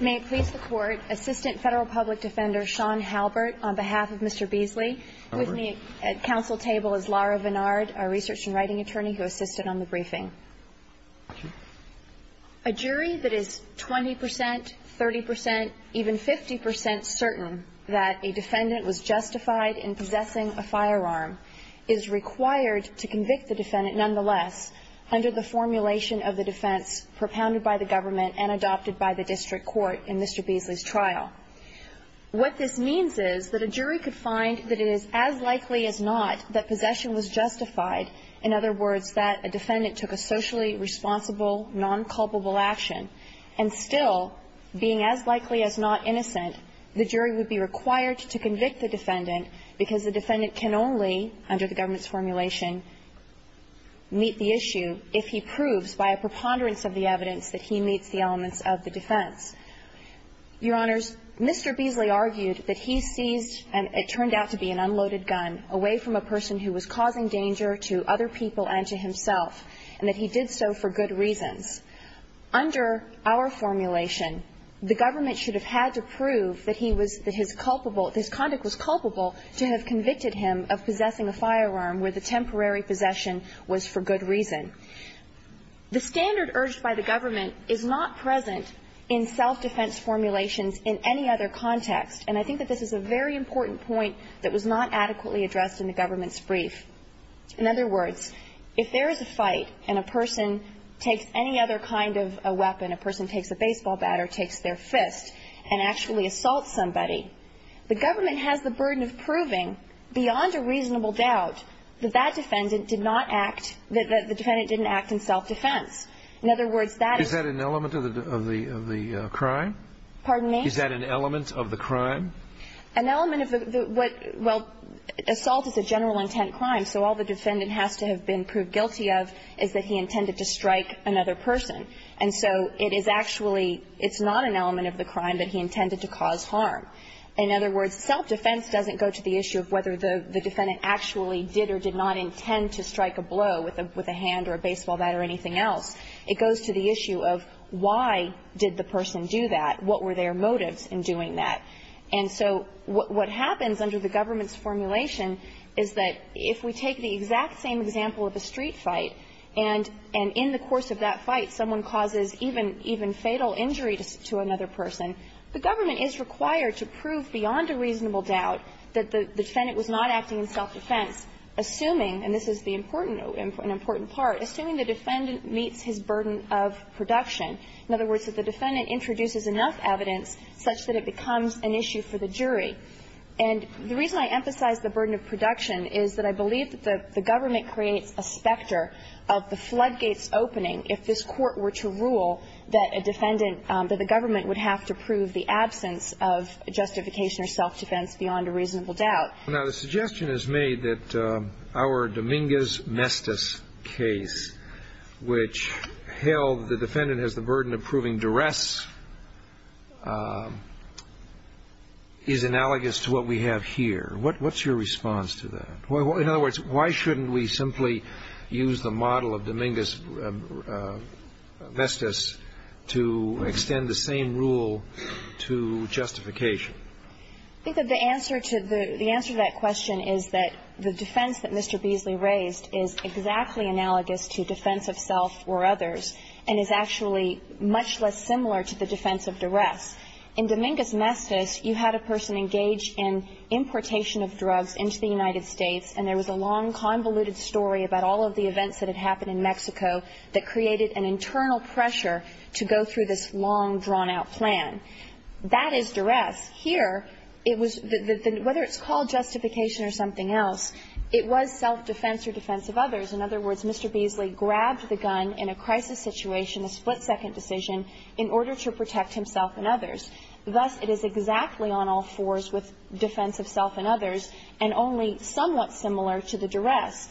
May it please the court, Assistant Federal Public Defender Sean Halbert on behalf of Mr. Beasley. With me at council table is Laura Vennard, a research and writing attorney who assisted on the briefing. A jury that is 20%, 30%, even 50% certain that a defendant was justified in possessing a firearm is required to convict the defendant nonetheless under the formulation of the defense propounded by the government and adopted by the district court in Mr. Beasley's trial. What this means is that a jury could find that it is as likely as not that possession was justified. In other words, that a defendant took a socially responsible, non-culpable action. And still being as likely as not innocent, the jury would be required to convict the defendant because the defendant can only, under the government's formulation, meet the issue if he proves by a preponderance of the evidence that he meets the elements of the defense. Your Honors, Mr. Beasley argued that he seized, and it turned out to be an unloaded gun, away from a person who was causing danger to other people and to himself, and that he did so for good reasons. Under our formulation, the government should have had to prove that he was, that his culpable to have convicted him of possessing a firearm where the temporary possession was for good reason. The standard urged by the government is not present in self-defense formulations in any other context. And I think that this is a very important point that was not adequately addressed in the government's brief. In other words, if there is a fight and a person takes any other kind of a weapon, a person takes a baseball bat or takes their fist and actually assaults somebody, the government has the burden of proving beyond a reasonable doubt that that defendant did not act, that the defendant didn't act in self-defense. In other words, that is an element of the crime? Pardon me? Is that an element of the crime? An element of the, well, assault is a general intent crime, so all the defendant has to have been proved guilty of is that he intended to strike another person. And so it is actually, it's not an element of the crime that he intended to cause harm. In other words, self-defense doesn't go to the issue of whether the defendant actually did or did not intend to strike a blow with a hand or a baseball bat or anything else. It goes to the issue of why did the person do that? What were their motives in doing that? And so what happens under the government's formulation is that if we take the exact same example of a street fight and in the course of that fight someone causes even fatal injury to another person, the government is required to prove beyond a reasonable doubt that the defendant was not acting in self-defense, assuming, and this is the important, an important part, assuming the defendant meets his burden of production. In other words, that the defendant introduces enough evidence such that it becomes an issue for the jury. And the reason I emphasize the burden of production is that I believe that the government creates a specter of the floodgates opening if this court were to rule that a defendant, that the government would have to prove the absence of justification or self-defense beyond a reasonable doubt. Now, the suggestion is made that our Dominguez-Mestiz case, which held the defendant has the burden of proving duress, is analogous to what we have here. What's your response to that? In other words, why shouldn't we simply use the model of Dominguez-Mestiz to extend the same rule to justification? I think that the answer to that question is that the defense that Mr. Beasley raised is exactly analogous to defense of self or others and is actually much less similar to the defense of duress. In Dominguez-Mestiz, you had a person engaged in importation of drugs into the United States, and there was a long, convoluted story about all of the events that had happened in Mexico that created an internal pressure to go through this long, drawn-out plan. That is duress. Here, it was the — whether it's called justification or something else, it was self-defense or defense of others. In other words, Mr. Beasley grabbed the gun in a crisis situation, a split-second decision, in order to protect himself and others. Thus, it is exactly on all fours with defense of self and others and only somewhat similar to the duress.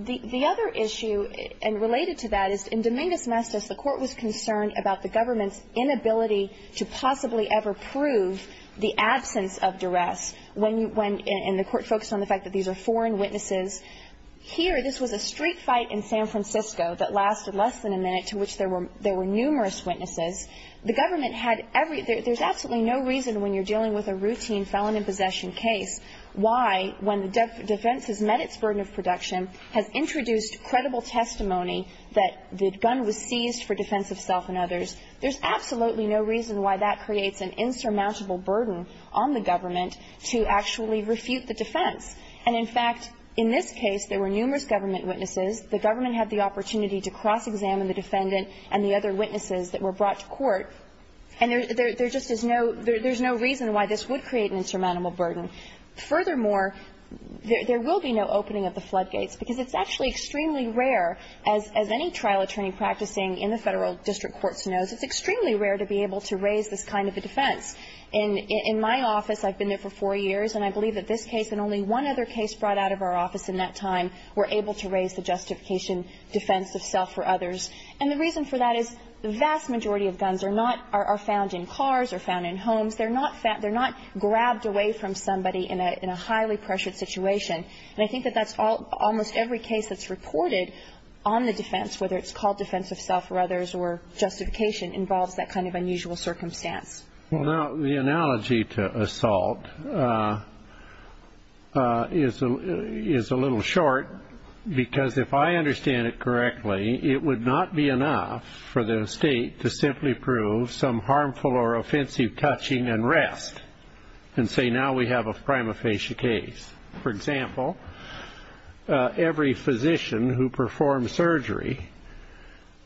The other issue, and related to that, is in Dominguez-Mestiz, the Court was concerned about the government's inability to possibly ever prove the absence of duress when you — when — and the Court focused on the fact that these are foreign witnesses. Here, this was a street fight in San Francisco that lasted less than a minute, to which there were numerous witnesses. The government had every — there's absolutely no reason, when you're dealing with a routine felon-in-possession case, why, when the defense has met its burden of production, has introduced credible testimony that the gun was seized for defense of self and others, there's absolutely no reason why that creates an insurmountable burden on the government to actually refute the defense. And, in fact, in this case, there were numerous government witnesses. The government had the opportunity to cross-examine the defendant and the other witnesses that were brought to court, and there just is no — there's no reason why this would create an insurmountable burden. Furthermore, there will be no opening of the floodgates, because it's actually extremely rare, as any trial attorney practicing in the Federal district courts knows, it's extremely rare to be able to raise this kind of a defense. In my office, I've been there for four years, and I believe that this case and only one other case brought out of our office in that time were able to raise the justification defense of self for others. And the reason for that is the vast majority of guns are not — are found in cars or found in homes. They're not — they're not grabbed away from somebody in a — in a highly pressured situation. And I think that that's all — almost every case that's reported on the defense, whether it's called defense of self or others or justification, involves that kind of unusual circumstance. Well, now, the analogy to assault is a — is a little short, because if I understand it correctly, it would not be enough for the state to simply prove some harmful or offensive touching and rest and say, now we have a prima facie case. For example, every physician who performs surgery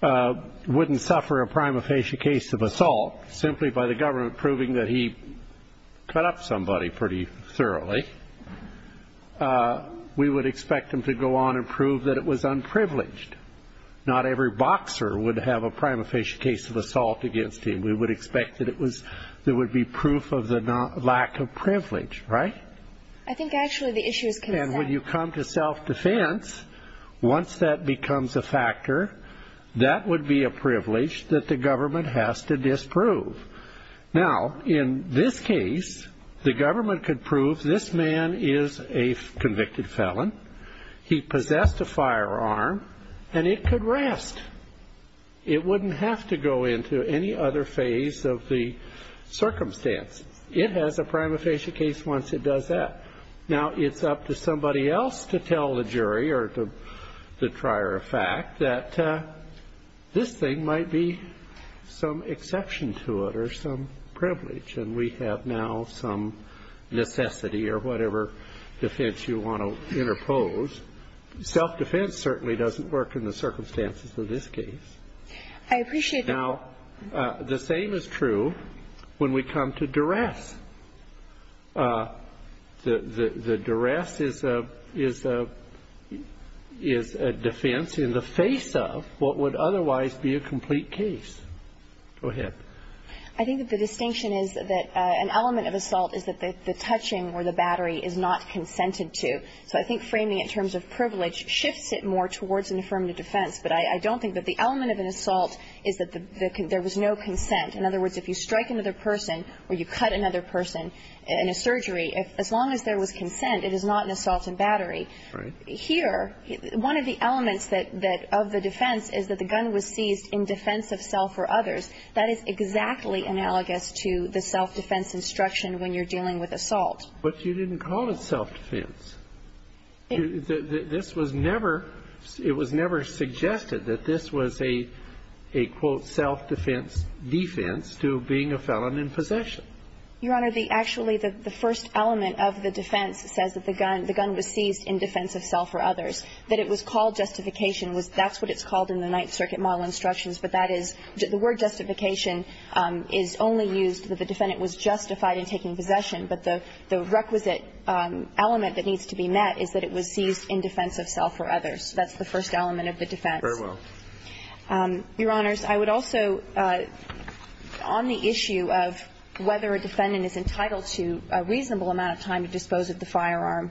wouldn't suffer a prima facie case of assault simply by the government proving that he cut up somebody pretty thoroughly. We would expect them to go on and prove that it was unprivileged. Not every boxer would have a prima facie case of assault against him. We would expect that it was — there would be proof of the lack of privilege, right? I think, actually, the issue is — And when you come to self-defense, once that becomes a factor, that would be a privilege that the government has to disprove. Now, in this case, the government could prove this man is a convicted felon, he possessed a firearm, and it could rest. It wouldn't have to go into any other phase of the circumstance. It has a prima facie case once it does that. Now, it's up to somebody else to tell the jury or the trier of fact that this thing might be some exception to it or some privilege, and we have now some necessity or whatever defense you want to interpose. Self-defense certainly doesn't work in the circumstances of this case. I appreciate that. Now, the same is true when we come to duress. The duress is a defense in the face of what would otherwise be a complete case. Go ahead. I think that the distinction is that an element of assault is that the touching or the battery is not consented to. So I think framing it in terms of privilege shifts it more towards an affirmative defense, but I don't think that the element of an assault is that there was no consent. In other words, if you strike another person or you cut another person in a surgery, as long as there was consent, it is not an assault and battery. Right. Here, one of the elements that of the defense is that the gun was seized in defense of self or others. That is exactly analogous to the self-defense instruction when you're dealing with assault. But you didn't call it self-defense. It was never suggested that this was a, quote, self-defense defense to being a felon in possession. Your Honor, actually, the first element of the defense says that the gun was seized in defense of self or others, that it was called justification. That's what it's called in the Ninth Circuit model instructions, but that is the word justification is only used that the defendant was justified in taking possession, but the requisite element that needs to be met is that it was seized in defense of self or others. That's the first element of the defense. Very well. Your Honors, I would also, on the issue of whether a defendant is entitled to a reasonable amount of time to dispose of the firearm,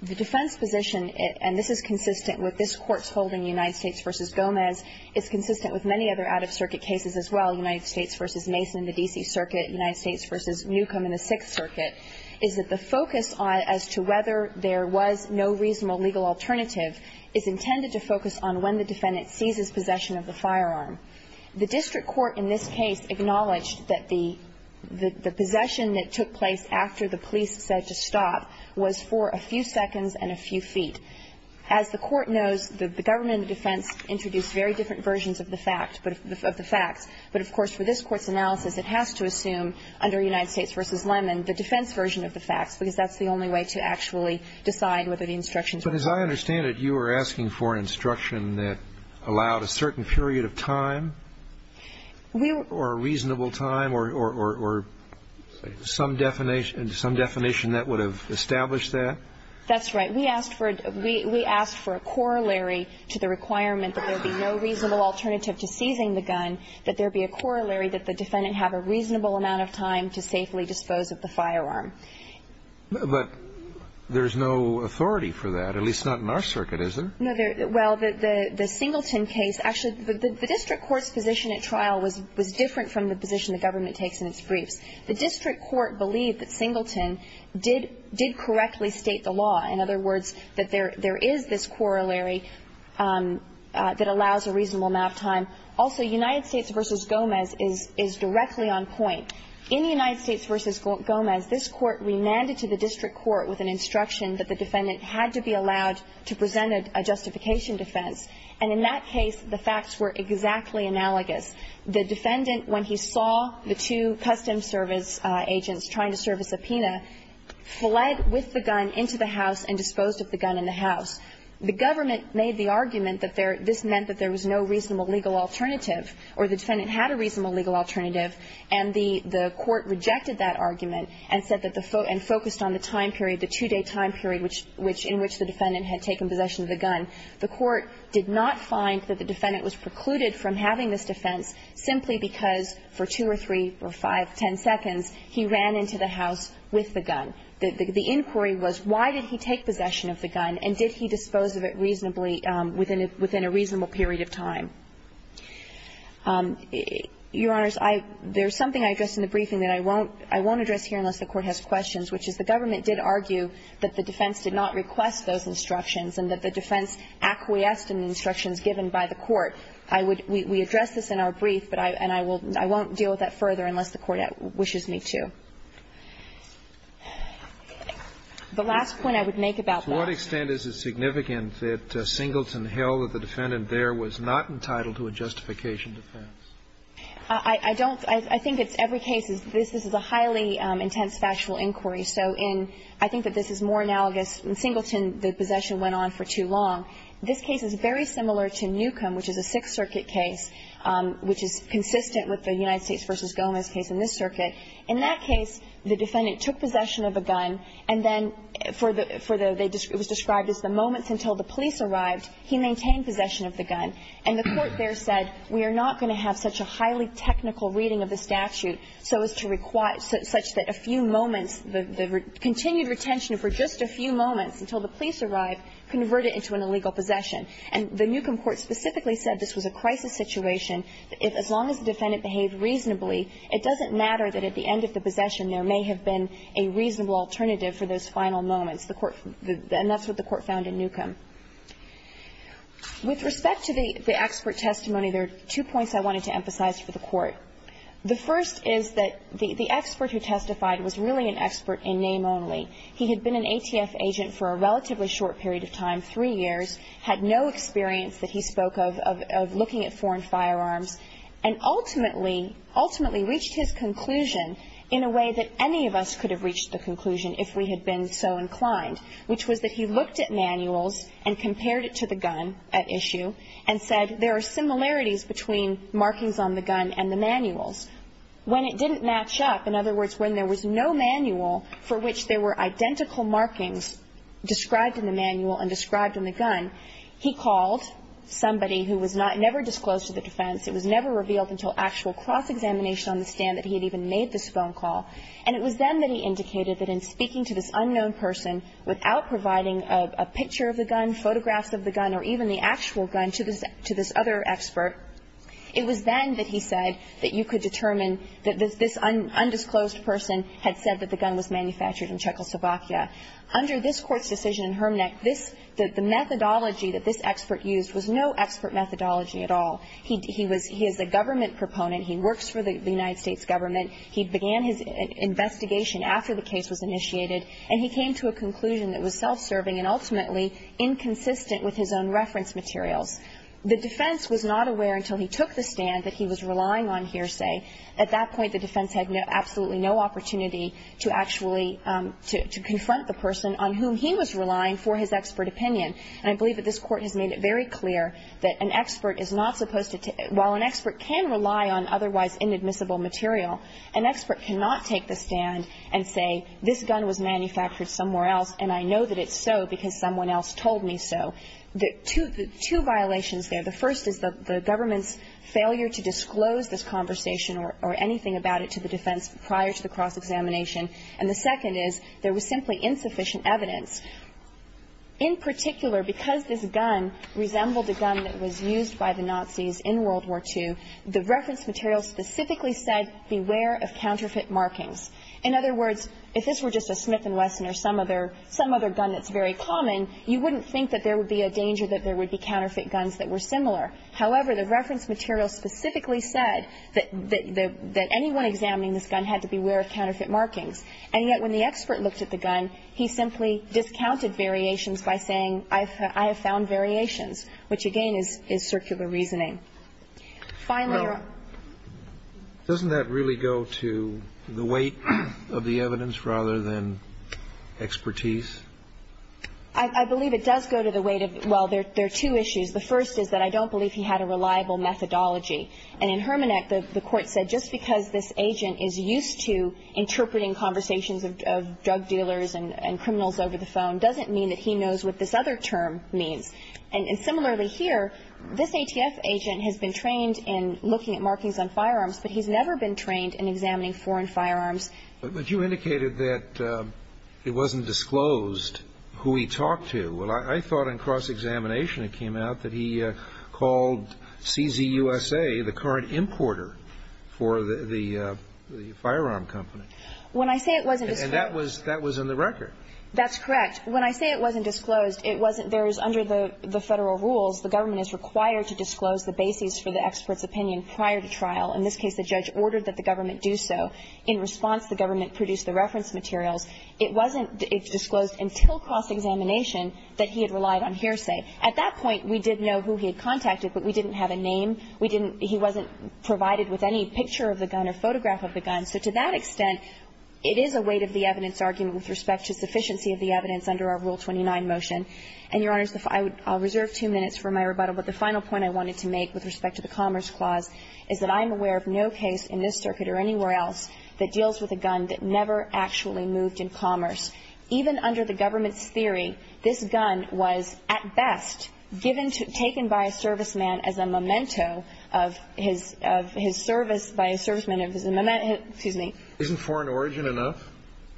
the defense position, and this is consistent with this Court's holding, United States v. Gomez, is consistent with many other out-of-circuit cases as well, United States v. Mason, the D.C. Circuit, United The reason that the defense position is consistent with the outcome in the Sixth Circuit is that the focus as to whether there was no reasonable legal alternative is intended to focus on when the defendant seizes possession of the firearm. The district court in this case acknowledged that the possession that took place after the police said to stop was for a few seconds and a few feet. As the Court knows, the government and the defense introduced very different versions of the facts. But, of course, for this Court's analysis, it has to assume under United States v. Lemon the defense version of the facts because that's the only way to actually decide whether the instructions were true. But as I understand it, you were asking for an instruction that allowed a certain period of time or a reasonable time or some definition that would have established that? That's right. We asked for a corollary to the requirement that there be no reasonable alternative to seizing the gun, that there be a corollary that the defendant have a reasonable amount of time to safely dispose of the firearm. But there's no authority for that, at least not in our circuit, is there? No. Well, the Singleton case, actually, the district court's position at trial was different from the position the government takes in its briefs. The district court believed that Singleton did correctly state the law. In other words, that there is this corollary that allows a reasonable amount of time. Also, United States v. Gomez is directly on point. In United States v. Gomez, this Court remanded to the district court with an instruction that the defendant had to be allowed to present a justification defense. And in that case, the facts were exactly analogous. The defendant, when he saw the two custom service agents trying to serve a subpoena, fled with the gun into the house and disposed of the gun in the house. The government made the argument that this meant that there was no reasonable legal alternative, or the defendant had a reasonable legal alternative, and the court rejected that argument and said that the foe and focused on the time period, the two-day time period in which the defendant had taken possession of the gun. The court did not find that the defendant was precluded from having this defense simply because for 2 or 3 or 5, 10 seconds, he ran into the house with the gun. The inquiry was why did he take possession of the gun and did he dispose of it reasonably within a reasonable period of time. Your Honors, there's something I addressed in the briefing that I won't address here unless the Court has questions, which is the government did argue that the defense did not request those instructions and that the defense acquiesced in the instructions given by the court. I would, we addressed this in our brief, but I, and I will, I won't deal with that further unless the Court wishes me to. The last point I would make about that. To what extent is it significant that Singleton held that the defendant there was not entitled to a justification defense? I don't, I think it's every case, this is a highly intense factual inquiry. So in, I think that this is more analogous, in Singleton the possession went on for too long. This case is very similar to Newcomb, which is a Sixth Circuit case, which is consistent with the United States v. Gomez case in this circuit. In that case, the defendant took possession of a gun and then for the, for the, it was described as the moments until the police arrived, he maintained possession of the gun. And the Court there said, we are not going to have such a highly technical reading of the statute so as to require, such that a few moments, the, the continued retention for just a few moments until the police arrived converted into an illegal possession. And the Newcomb Court specifically said this was a crisis situation. If, as long as the defendant behaved reasonably, it doesn't matter that at the end of the possession there may have been a reasonable alternative for those final moments. The Court, and that's what the Court found in Newcomb. With respect to the, the expert testimony, there are two points I wanted to emphasize for the Court. The first is that the, the expert who testified was really an expert in name only. He had been an ATF agent for a relatively short period of time, three years. Had no experience that he spoke of, of, of looking at foreign firearms. And ultimately, ultimately reached his conclusion in a way that any of us could have reached the conclusion if we had been so inclined. Which was that he looked at manuals and compared it to the gun at issue and said, there are similarities between markings on the gun and the manuals. When it didn't match up, in other words, when there was no manual for which there were identical markings described in the manual and described in the gun, he called somebody who was not, never disclosed to the defense. It was never revealed until actual cross-examination on the stand that he had even made this phone call. And it was then that he indicated that in speaking to this unknown person without providing a, a picture of the gun, photographs of the gun, or even the actual gun to this, to this other expert, it was then that he said that you could determine that this undisclosed person had said that the gun was manufactured in Czechoslovakia. Under this Court's decision in Hermnek, this, the methodology that this expert used was no expert methodology at all. He, he was, he is a government proponent. He works for the United States government. He began his investigation after the case was initiated, and he came to a conclusion that was self-serving and ultimately inconsistent with his own reference materials. The defense was not aware until he took the stand that he was relying on hearsay at that point the defense had absolutely no opportunity to actually, to, to confront the person on whom he was relying for his expert opinion. And I believe that this Court has made it very clear that an expert is not supposed to, while an expert can rely on otherwise inadmissible material, an expert cannot take the stand and say this gun was manufactured somewhere else and I know that it's so because someone else told me so. The two, the two violations there, the first is the, the government's failure to disclose this conversation or, or anything about it to the defense prior to the cross-examination, and the second is there was simply insufficient evidence. In particular, because this gun resembled a gun that was used by the Nazis in World War II, the reference material specifically said beware of counterfeit markings. In other words, if this were just a Smith & Wesson or some other, some other gun that's very common, you wouldn't think that there would be a danger that there would be counterfeit guns that were similar. However, the reference material specifically said that, that, that anyone examining this gun had to beware of counterfeit markings. And yet when the expert looked at the gun, he simply discounted variations by saying I've, I have found variations, which again is, is circular reasoning. Finally, Your Honor. Well, doesn't that really go to the weight of the evidence rather than expertise? I, I believe it does go to the weight of, well, there, there are two issues. The first is that I don't believe he had a reliable methodology. And in Hermanek, the, the court said just because this agent is used to interpreting conversations of, of drug dealers and, and criminals over the phone doesn't mean that he knows what this other term means. And, and similarly here, this ATF agent has been trained in looking at markings on firearms, but he's never been trained in examining foreign firearms. But, but you indicated that it wasn't disclosed who he talked to. Well, I, I thought in cross-examination it came out that he called CZ USA the current importer for the, the, the firearm company. When I say it wasn't disclosed. And that was, that was in the record. That's correct. When I say it wasn't disclosed, it wasn't. There is under the, the Federal rules, the government is required to disclose the bases for the expert's opinion prior to trial. In this case, the judge ordered that the government do so. In response, the government produced the reference materials. It wasn't disclosed until cross-examination that he had relied on hearsay. At that point, we did know who he had contacted, but we didn't have a name. We didn't, he wasn't provided with any picture of the gun or photograph of the gun. So to that extent, it is a weight of the evidence argument with respect to sufficiency of the evidence under our Rule 29 motion. And, Your Honors, if I would, I'll reserve two minutes for my rebuttal. But the final point I wanted to make with respect to the Commerce Clause is that I'm aware of no case in this circuit or anywhere else that deals with a gun that never actually moved in commerce. Even under the government's theory, this gun was, at best, given to, taken by a serviceman as a memento of his, of his service by a serviceman of his memento. Excuse me. Isn't foreign origin enough?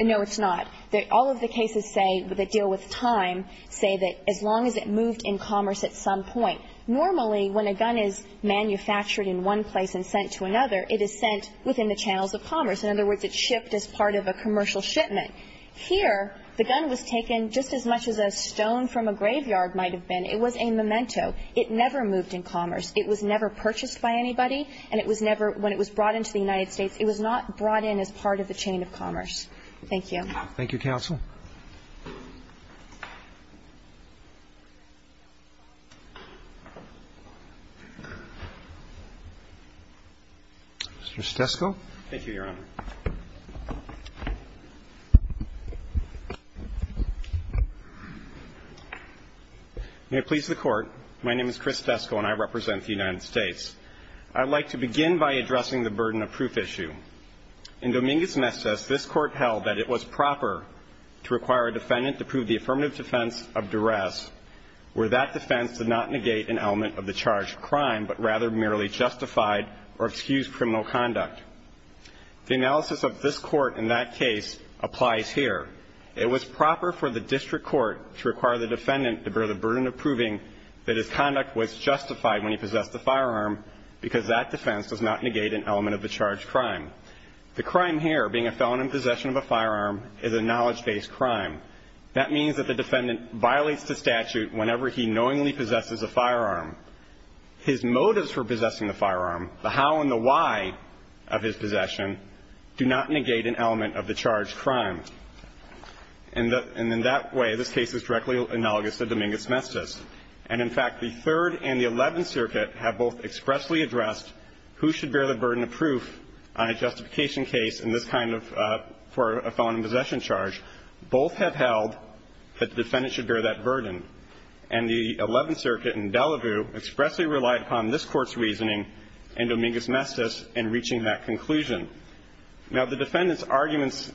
No, it's not. All of the cases say, that deal with time, say that as long as it moved in commerce at some point. Normally, when a gun is manufactured in one place and sent to another, it is sent within the channels of commerce. In other words, it shipped as part of a commercial shipment. Here, the gun was taken just as much as a stone from a graveyard might have been. It was a memento. It never moved in commerce. It was never purchased by anybody, and it was never, when it was brought into the United States, it was not brought in as part of the chain of commerce. Thank you. Thank you, counsel. Mr. Stesko. Thank you, Your Honor. May it please the Court. My name is Chris Stesko, and I represent the United States. I'd like to begin by addressing the burden of proof issue. In Dominguez-Mestez, this Court held that it was proper to require a defendant to prove the affirmative defense of duress where that defense did not negate an element of the charge of crime, but rather merely justified or excused criminal conduct. The analysis of this Court in that case applies here. It was proper for the district court to require the defendant to bear the burden of proving that his conduct was justified when he possessed a firearm because that defense does not negate an element of the charge of crime. The crime here, being a felon in possession of a firearm, is a knowledge-based crime. That means that the defendant violates the statute whenever he knowingly possesses a firearm. His motives for possessing the firearm, the how and the why of his possession, do not negate an element of the charge of crime. And in that way, this case is directly analogous to Dominguez-Mestez. And in fact, the Third and the Eleventh Circuit have both expressly addressed who should bear the burden of proof on a justification case in this kind of for a felon in possession charge. Both have held that the defendant should bear that burden. And the Eleventh Circuit in Delaware expressly relied upon this Court's reasoning in Dominguez-Mestez in reaching that conclusion. Now, the defendant's arguments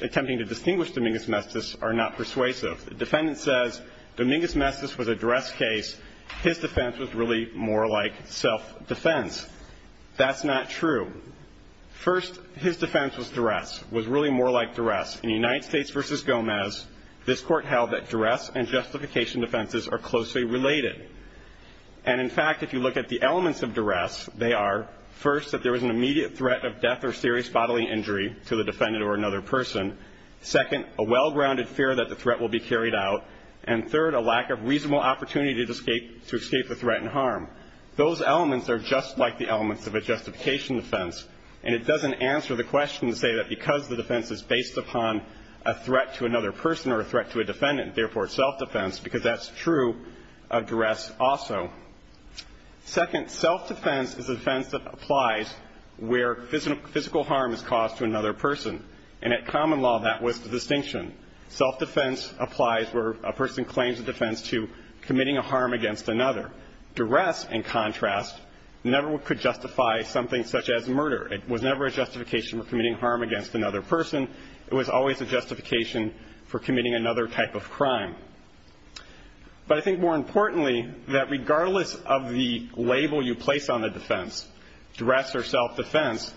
attempting to distinguish Dominguez-Mestez are not persuasive. The defendant says Dominguez-Mestez was a duress case. His defense was really more like self-defense. That's not true. First, his defense was duress, was really more like duress. In United States v. Gomez, this Court held that duress and justification defenses are closely related. And in fact, if you look at the elements of duress, they are, first, that there was an immediate threat of death or serious bodily injury to the defendant or another person. Second, a well-grounded fear that the threat will be carried out. And third, a lack of reasonable opportunity to escape the threat and harm. Those elements are just like the elements of a justification defense. And it doesn't answer the question to say that because the defense is based upon a threat to another person or a threat to a defendant, therefore self-defense, because that's true of duress also. Second, self-defense is a defense that applies where physical harm is caused to another person. And at common law, that was the distinction. Self-defense applies where a person claims a defense to committing a harm against another. Duress, in contrast, never could justify something such as murder. It was never a justification for committing harm against another person. It was always a justification for committing another type of crime. But I think more importantly, that regardless of the label you place on the defense, duress or self-defense,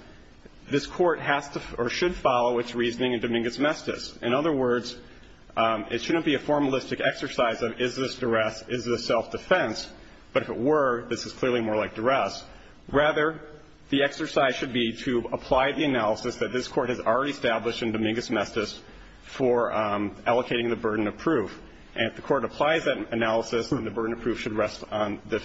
this Court has to or should follow its reasoning in Dominguez-Mestiz. In other words, it shouldn't be a formalistic exercise of is this duress, is this self-defense. But if it were, this is clearly more like duress. Rather, the exercise should be to apply the analysis that this Court has already established in Dominguez-Mestiz for allocating the burden of proof. And if the Court applies that analysis, then the burden of proof should rest on the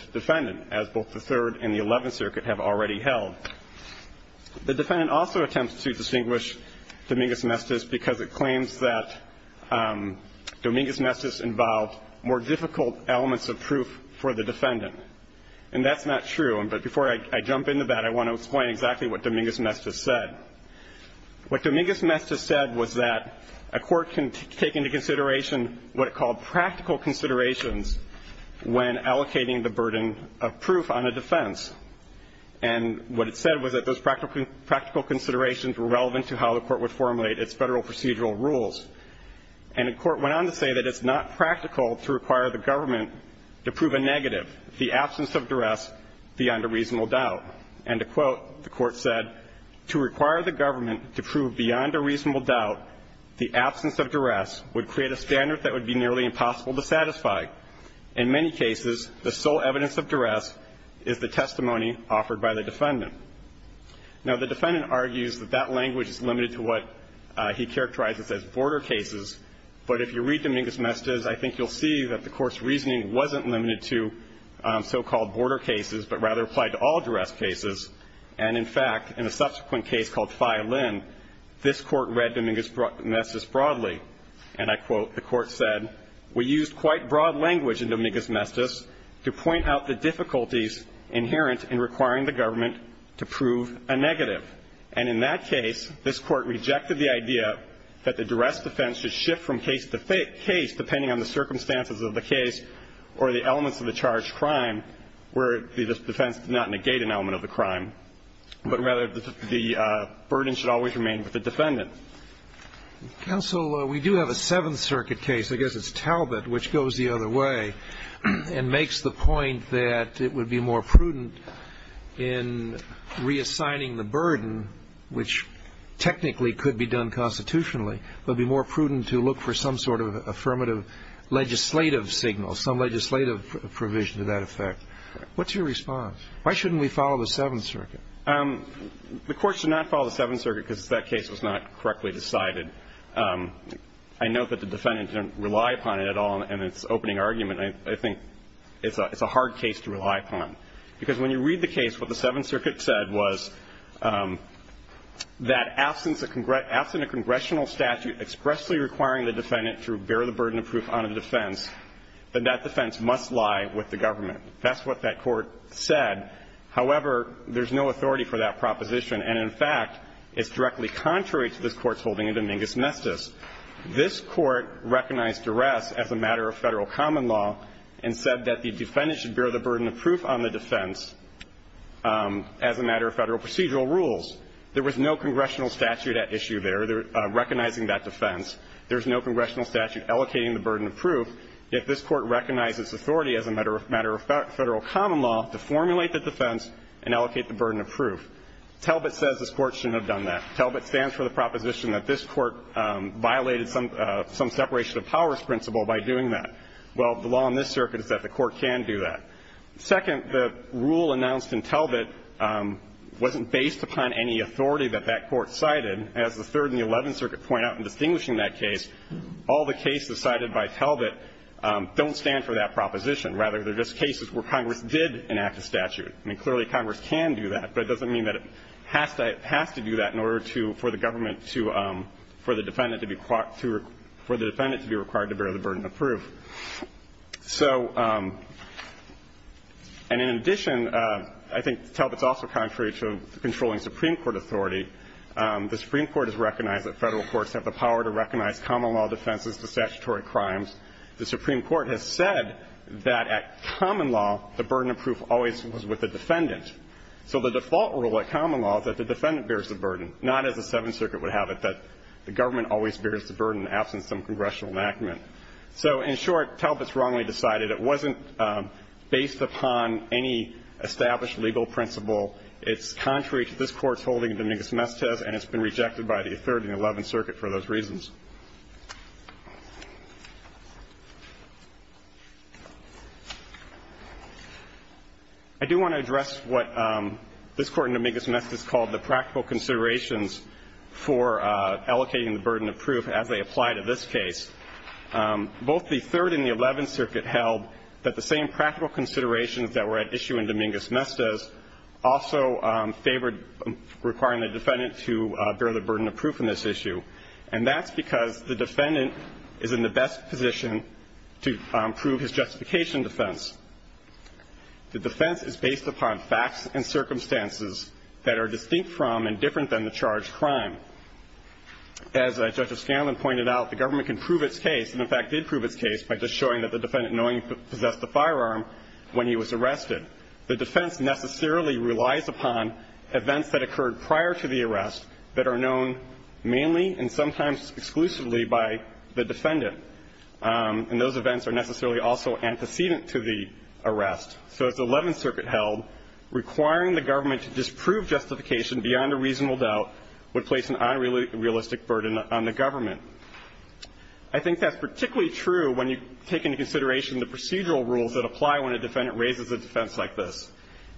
The defendant also attempts to distinguish Dominguez-Mestiz because it claims that Dominguez-Mestiz involved more difficult elements of proof for the defendant. And that's not true. But before I jump into that, I want to explain exactly what Dominguez-Mestiz said. What Dominguez-Mestiz said was that a court can take into consideration what it called practical considerations when allocating the burden of proof on a defense. And what it said was that those practical considerations were relevant to how the Court would formulate its Federal procedural rules. And the Court went on to say that it's not practical to require the government to prove a negative, the absence of duress, beyond a reasonable doubt. And to quote, the Court said, To require the government to prove beyond a reasonable doubt the absence of duress would create a standard that would be nearly impossible to satisfy. In many cases, the sole evidence of duress is the testimony offered by the defendant. Now, the defendant argues that that language is limited to what he characterizes as border cases. But if you read Dominguez-Mestiz, I think you'll see that the Court's reasoning wasn't limited to so-called border cases, but rather applied to all duress cases. And, in fact, in a subsequent case called Fye-Linn, this Court read Dominguez-Mestiz broadly. And I quote, the Court said, We used quite broad language in Dominguez-Mestiz to point out the difficulties inherent in requiring the government to prove a negative. And in that case, this Court rejected the idea that the duress defense should shift from case to case depending on the circumstances of the case or the elements of the charged crime, where the defense did not negate an element of the crime, but rather the burden should always remain with the defendant. Counsel, we do have a Seventh Circuit case. I guess it's Talbot, which goes the other way and makes the point that it would be more prudent in reassigning the burden, which technically could be done constitutionally, it would be more prudent to look for some sort of affirmative legislative signal, some legislative provision to that effect. What's your response? Why shouldn't we follow the Seventh Circuit? The Court should not follow the Seventh Circuit because that case was not correctly decided. I note that the defendant didn't rely upon it at all in its opening argument. I think it's a hard case to rely upon. Because when you read the case, what the Seventh Circuit said was that absent a congressional statute expressly requiring the defendant to bear the burden of proof on a defense, then that defense must lie with the government. That's what that Court said. However, there's no authority for that proposition. And, in fact, it's directly contrary to this Court's holding in Dominguez-Mestiz. This Court recognized duress as a matter of Federal common law and said that the defendant should bear the burden of proof on the defense as a matter of Federal procedural rules. There was no congressional statute at issue there recognizing that defense. There's no congressional statute allocating the burden of proof. Yet this Court recognizes authority as a matter of Federal common law to formulate the defense and allocate the burden of proof. Talbot says this Court shouldn't have done that. Talbot stands for the proposition that this Court violated some separation of powers principle by doing that. Well, the law in this Circuit is that the Court can do that. Second, the rule announced in Talbot wasn't based upon any authority that that Court cited. As the Third and the Eleventh Circuit point out in distinguishing that case, all the cases cited by Talbot don't stand for that proposition. Rather, they're just cases where Congress did enact a statute. I mean, clearly Congress can do that, but it doesn't mean that it has to do that in order to – for the government to – for the defendant to be – for the defendant to be required to bear the burden of proof. So – and in addition, I think Talbot's also contrary to controlling Supreme Court authority. The Supreme Court has recognized that Federal courts have the power to recognize common law defenses to statutory crimes. The Supreme Court has said that at common law, the burden of proof always was with the defendant. So the default rule at common law is that the defendant bears the burden, not as the Seventh Circuit would have it, that the government always bears the burden, absent some congressional enactment. So in short, Talbot's wrongly decided it wasn't based upon any established legal principle. It's contrary to this Court's holding in Dominguez-Mestez, and it's been rejected by the Third and the Eleventh Circuit for those reasons. I do want to address what this Court in Dominguez-Meztez called the practical considerations for allocating the burden of proof as they apply to this case. Both the Third and the Eleventh Circuit held that the same practical considerations that were at issue in Dominguez-Meztez also favored requiring the defendant to bear the burden of proof in this issue. And that's because the defendant is in the best position to prove his justification defense. The defense is based upon facts and circumstances that are distinct from and different than the charged crime. As Justice Scanlon pointed out, the government can prove its case and, in fact, did prove its case by just showing that the defendant knowingly possessed the firearm when he was arrested. The defense necessarily relies upon events that occurred prior to the arrest that are known mainly and sometimes exclusively by the defendant. And those events are necessarily also antecedent to the arrest. So as the Eleventh Circuit held, requiring the government to disprove justification beyond a reasonable doubt would place an unrealistic burden on the government. I think that's particularly true when you take into consideration the procedural rules that apply when a defendant raises a defense like this.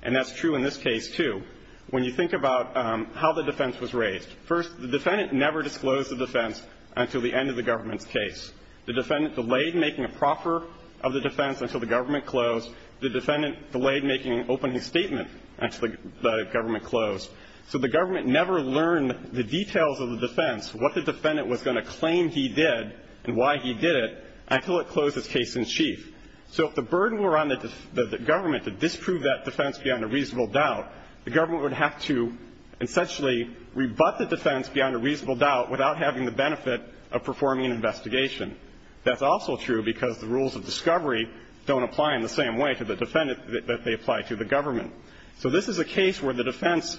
And that's true in this case, too. When you think about how the defense was raised. First, the defendant never disclosed the defense until the end of the government's case. The defendant delayed making a proffer of the defense until the government closed. The defendant delayed making an opening statement until the government closed. So the government never learned the details of the defense, what the defendant was going to claim he did and why he did it, until it closed his case in chief. So if the burden were on the government to disprove that defense beyond a reasonable doubt, the government would have to essentially rebut the defense beyond a reasonable doubt without having the benefit of performing an investigation. That's also true because the rules of discovery don't apply in the same way to the defendant that they apply to the government. So this is a case where the defense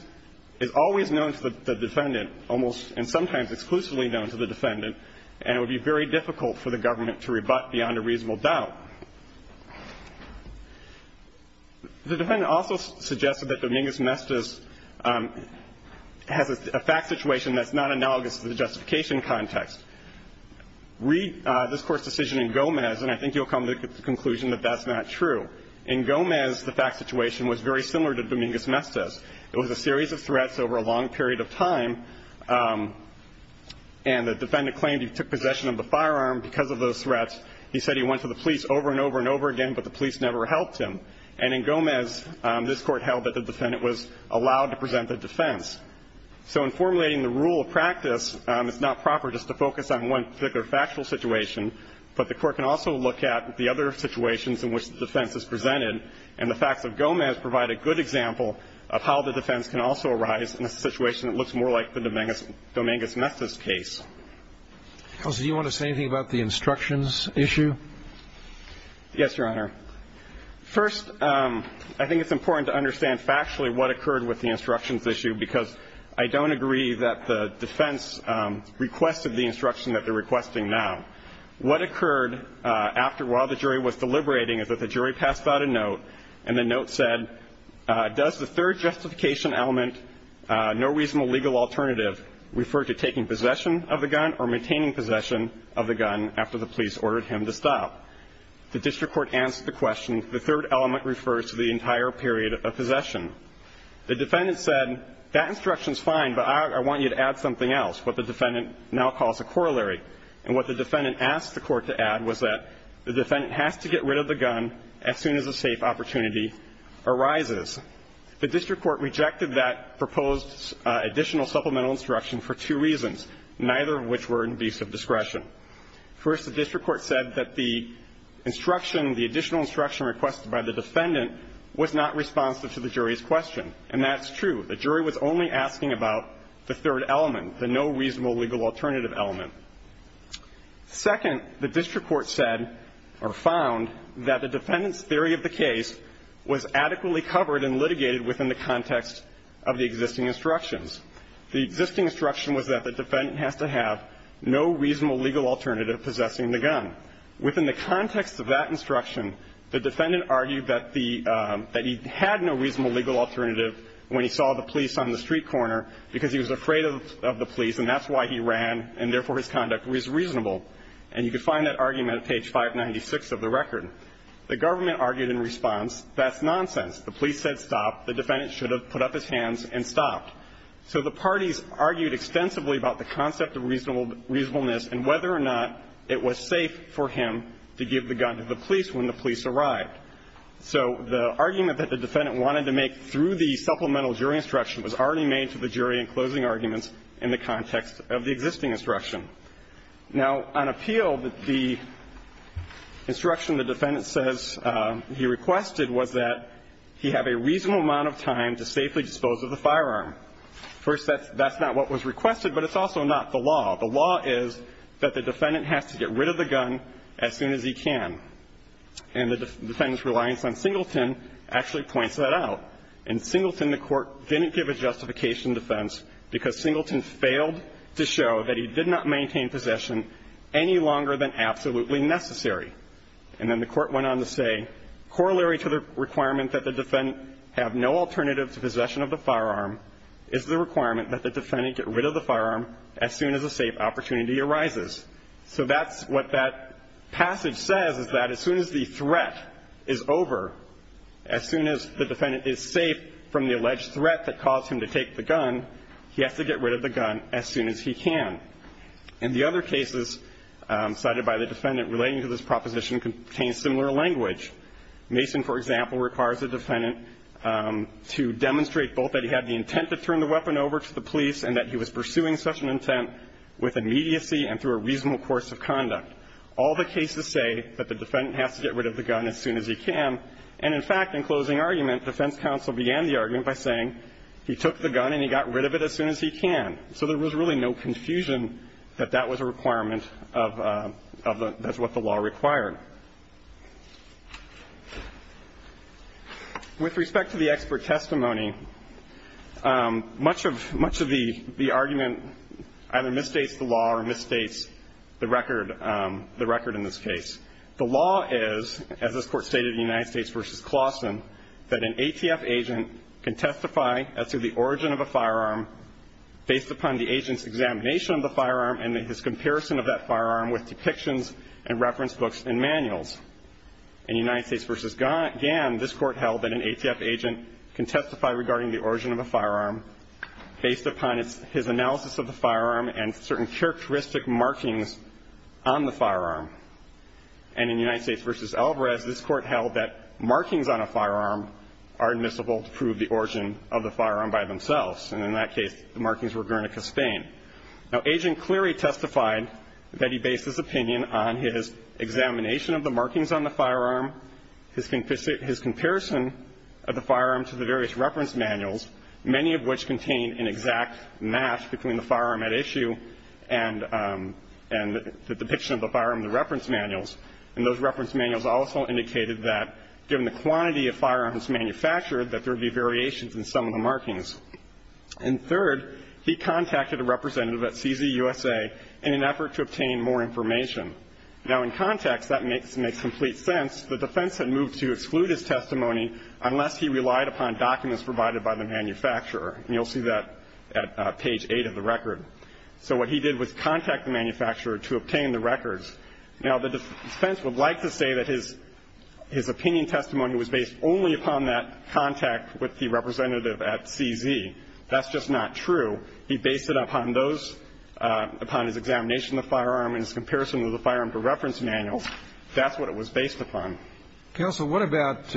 is always known to the defendant, almost, and sometimes exclusively known to the defendant, and it would be very difficult for the government to rebut beyond a reasonable doubt. The defendant also suggested that Dominguez-Mestiz has a fact situation that's not analogous to the justification context. Read this Court's decision in Gomez, and I think you'll come to the conclusion that that's not true. In Gomez, the fact situation was very similar to Dominguez-Mestiz. It was a series of threats over a long period of time, and the defendant claimed he took possession of the firearm because of those threats. He said he went to the police over and over and over again, but the police never helped him. And in Gomez, this Court held that the defendant was allowed to present a defense. So in formulating the rule of practice, it's not proper just to focus on one particular factual situation, but the Court can also look at the other situations in which the defense is presented, and the facts of Gomez provide a good example of how the defense can also arise in a situation that looks more like the Dominguez-Mestiz case. Elsa, do you want to say anything about the instructions issue? Yes, Your Honor. First, I think it's important to understand factually what occurred with the instructions issue, because I don't agree that the defense requested the instruction that they're requesting now. What occurred after, while the jury was deliberating, is that the jury passed out a note, and the note said, does the third justification element, no reasonable legal alternative, refer to taking possession of the gun or maintaining possession of the gun after the police ordered him to stop? The district court answered the question, the third element refers to the entire period of possession. The defendant said, that instruction's fine, but I want you to add something else, what the defendant now calls a corollary. And what the defendant asked the Court to add was that the defendant has to get rid of the gun as soon as a safe opportunity arises. The district court rejected that proposed additional supplemental instruction for two reasons, neither of which were in view of discretion. First, the district court said that the instruction, the additional instruction requested by the defendant, was not responsive to the jury's question. And that's true. The jury was only asking about the third element, the no reasonable legal alternative element. Second, the district court said, or found, that the defendant's theory of the case was adequately covered and litigated within the context of the existing instructions. The existing instruction was that the defendant has to have no reasonable legal alternative possessing the gun. Within the context of that instruction, the defendant argued that he had no reasonable legal alternative when he saw the police on the street corner because he was afraid of the police, and that's why he ran, and therefore his conduct was reasonable. And you can find that argument at page 596 of the record. The government argued in response, that's nonsense. The police said stop. The defendant should have put up his hands and stopped. So the parties argued extensively about the concept of reasonableness and whether or not it was safe for him to give the gun to the police when the police arrived. So the argument that the defendant wanted to make through the supplemental jury instruction was already made to the jury in closing arguments in the context of the existing instruction. Now, on appeal, the instruction the defendant says he requested was that he have a reasonable amount of time to safely dispose of the firearm. First, that's not what was requested, but it's also not the law. The law is that the defendant has to get rid of the gun as soon as he can. And the defendant's reliance on Singleton actually points that out. In Singleton, the Court didn't give a justification defense because Singleton failed to show that he did not maintain possession any longer than absolutely necessary. And then the Court went on to say, corollary to the requirement that the defendant have no alternative to possession of the firearm is the requirement that the defendant get rid of the firearm as soon as a safe opportunity arises. So that's what that passage says, is that as soon as the threat is over, as soon as the defendant is safe from the alleged threat that caused him to take the gun, he has to get rid of the gun as soon as he can. And the other cases cited by the defendant relating to this proposition contain similar language. Mason, for example, requires the defendant to demonstrate both that he had the intent to turn the weapon over to the police and that he was pursuing such an intent with immediacy and through a reasonable course of conduct. All the cases say that the defendant has to get rid of the gun as soon as he can. And, in fact, in closing argument, defense counsel began the argument by saying he took the gun and he got rid of it as soon as he can. So there was really no confusion that that was a requirement of what the law required. With respect to the expert testimony, much of the argument either misstates the law or misstates the record in this case. The law is, as this Court stated in the United States v. Clauston, that an ATF agent can testify as to the origin of a firearm based upon the agent's examination of the firearm and his comparison of that firearm with depictions and reference books and manuals. In United States v. Gann, this Court held that an ATF agent can testify regarding the origin of a firearm based upon his analysis of the firearm and certain characteristic markings on the firearm. And in United States v. Alvarez, this Court held that markings on a firearm are admissible to prove the origin of the firearm by themselves. And in that case, the markings were Guernica Spain. Now, Agent Cleary testified that he based his opinion on his examination of the markings on the firearm, his comparison of the firearm to the various reference manuals, many of which contain an exact match between the firearm at issue and the depiction of the firearm in the reference manuals. Now, in context, that makes complete sense. The defense had moved to exclude his testimony unless he relied upon documents provided by the manufacturer. And you'll see that at page 8 of the record. So what he did was contact the manufacturer to obtain the records. Now, the defense would like to say that his opinion testimony was based only upon the reference manuals. He based it on that contact with the representative at CZ. That's just not true. He based it upon those upon his examination of the firearm and his comparison of the firearm to reference manuals. That's what it was based upon. Counsel, what about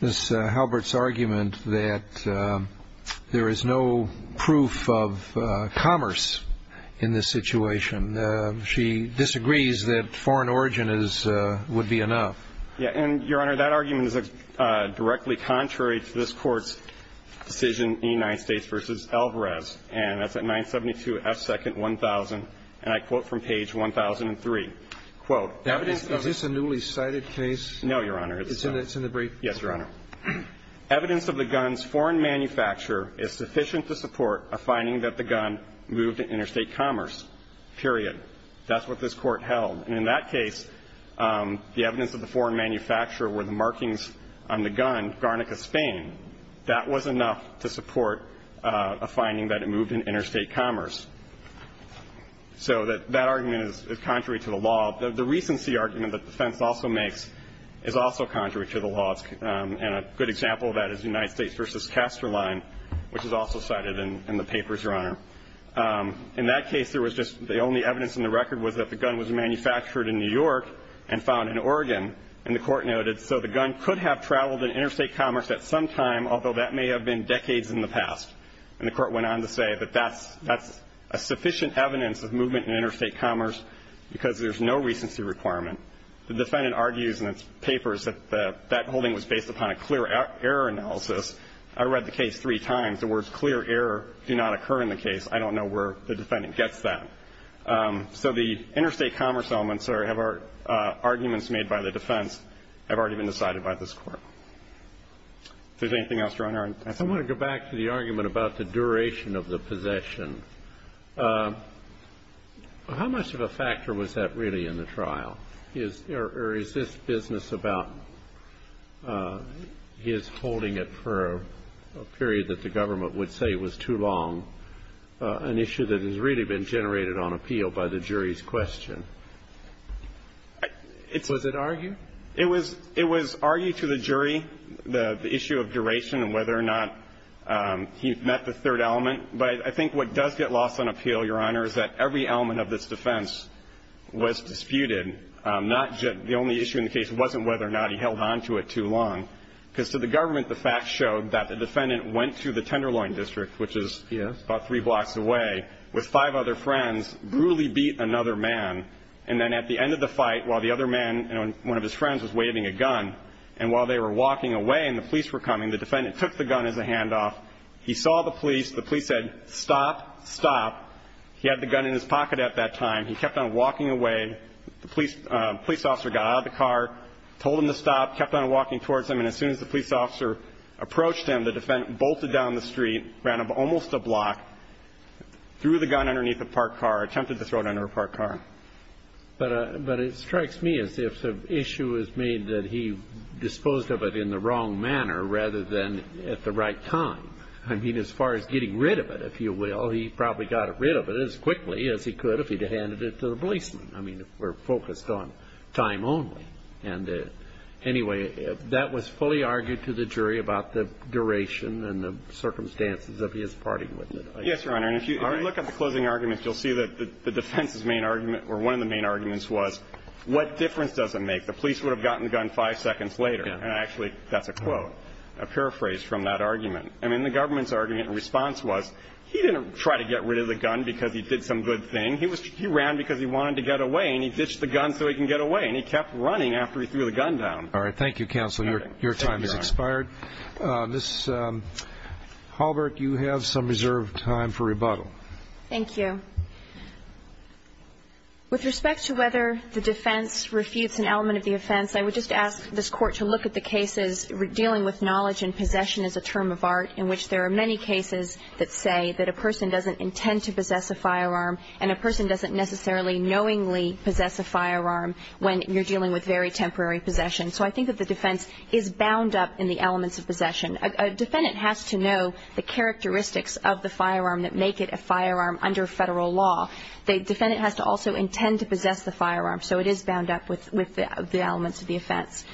this Halbert's argument that there is no proof of commerce in this situation? She disagrees that foreign origin would be enough. Yeah. And, Your Honor, that argument is directly contrary to this Court's decision in the United States v. Elvarez. And that's at 972 F. Second 1000. And I quote from page 1003, quote, Is this a newly cited case? No, Your Honor. It's in the brief. Yes, Your Honor. Evidence of the gun's foreign manufacturer is sufficient to support a finding that the gun moved to interstate commerce, period. That's what this Court held. And in that case, the evidence of the foreign manufacturer were the markings on the gun, Garnica, Spain. That was enough to support a finding that it moved in interstate commerce. So that argument is contrary to the law. The recency argument that the defense also makes is also contrary to the law. And a good example of that is the United States v. Casterline, which is also cited in the papers, Your Honor. In that case, there was just the only evidence in the record was that the gun was manufactured in New York and found in Oregon. And the Court noted, so the gun could have traveled in interstate commerce at some time, although that may have been decades in the past. And the Court went on to say that that's a sufficient evidence of movement in interstate commerce because there's no recency requirement. The defendant argues in its papers that that holding was based upon a clear error analysis. I read the case three times. The words clear error do not occur in the case. I don't know where the defendant gets that. So the interstate commerce arguments made by the defense have already been decided by this Court. If there's anything else, Your Honor. I want to go back to the argument about the duration of the possession. How much of a factor was that really in the trial? Or is this business about his holding it for a period that the government would say was too long, an issue that has really been generated on appeal by the jury's question? Was it argued? It was argued to the jury, the issue of duration and whether or not he met the third element. But I think what does get lost on appeal, Your Honor, is that every element of this defense was disputed. The only issue in the case wasn't whether or not he held on to it too long because to the government, the facts showed that the defendant went to the tenderloin district, which is about three blocks away, with five other friends, brutally beat another man. And then at the end of the fight, while the other man and one of his friends was waving a gun, and while they were walking away and the police were coming, the defendant took the gun as a handoff. He saw the police. The police said, Stop, stop. He had the gun in his pocket at that time. He kept on walking away. The police officer got out of the car, told him to stop, kept on walking towards him, and as soon as the police officer approached him, the defendant bolted down the street, ran up almost a block, threw the gun underneath a parked car, attempted to throw it under a parked car. But it strikes me as if the issue is made that he disposed of it in the wrong manner rather than at the right time. I mean, as far as getting rid of it, if you will, he probably got rid of it as quickly as he could if he had handed it to the policeman. I mean, we're focused on time only. And anyway, that was fully argued to the jury about the duration and the circumstances of his parting with it. Yes, Your Honor. And if you look at the closing arguments, you'll see that the defense's main argument or one of the main arguments was what difference does it make? The police would have gotten the gun five seconds later. And actually, that's a quote, a paraphrase from that argument. I mean, the government's argument in response was he didn't try to get rid of the gun because he did some good thing. He ran because he wanted to get away, and he ditched the gun so he can get away, and he kept running after he threw the gun down. All right. Thank you, counsel. Your time has expired. Ms. Hallberg, you have some reserved time for rebuttal. Thank you. With respect to whether the defense refutes an element of the offense, I would just ask this Court to look at the cases dealing with knowledge and possession as a term of art in which there are many cases that say that a person doesn't intend to possess a firearm and a person doesn't necessarily knowingly possess a firearm when you're dealing with very temporary possession. So I think that the defense is bound up in the elements of possession. A defendant has to know the characteristics of the firearm that make it a firearm under Federal law. The defendant has to also intend to possess the firearm. So it is bound up with the elements of the offense.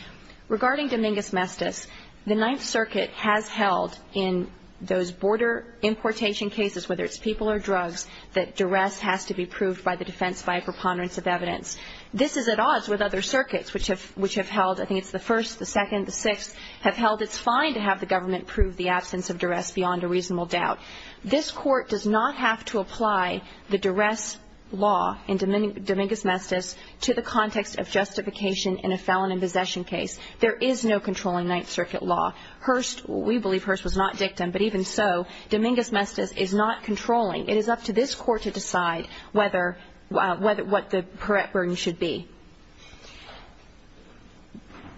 Regarding Dominguez-Mestiz, the Ninth Circuit has held in those border importation cases, whether it's people or drugs, that duress has to be proved by the defense by a preponderance of evidence. This is at odds with other circuits, which have held, I think it's the first, the second, the sixth, have held it's fine to have the government prove the absence of duress beyond a reasonable doubt. This Court does not have to apply the duress law in Dominguez-Mestiz to the context of justification in a felon in possession case. There is no controlling Ninth Circuit law. Hearst, we believe Hearst was not dictum, but even so, Dominguez-Mestiz is not controlling. It is up to this Court to decide whether, what the correct burden should be.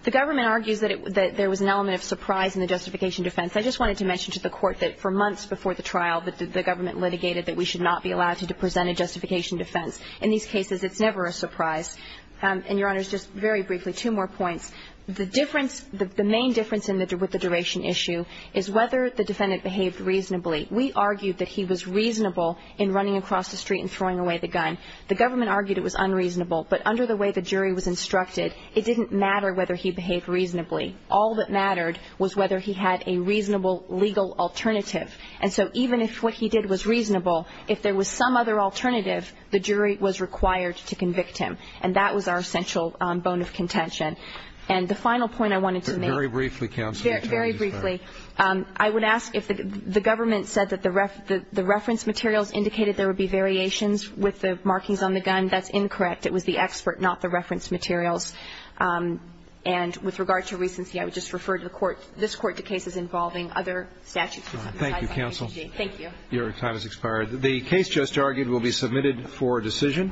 The government argues that there was an element of surprise in the justification defense. I just wanted to mention to the Court that for months before the trial, the government litigated that we should not be allowed to present a justification defense. In these cases, it's never a surprise. And, Your Honors, just very briefly, two more points. The difference, the main difference with the duration issue is whether the defendant behaved reasonably. We argued that he was reasonable in running across the street and throwing away the gun. The government argued it was unreasonable. But under the way the jury was instructed, it didn't matter whether he behaved reasonably. All that mattered was whether he had a reasonable legal alternative. And so even if what he did was reasonable, if there was some other alternative, the jury was required to convict him. And that was our essential bone of contention. And the final point I wanted to make. Very briefly, Counsel. Very briefly. I would ask if the government said that the reference materials indicated there would be variations with the markings on the gun. That's incorrect. It was the expert, not the reference materials. And with regard to recency, I would just refer to the Court, this Court, to cases involving other statutes. Thank you, Counsel. Thank you. Your time has expired. The case just argued will be submitted for decision.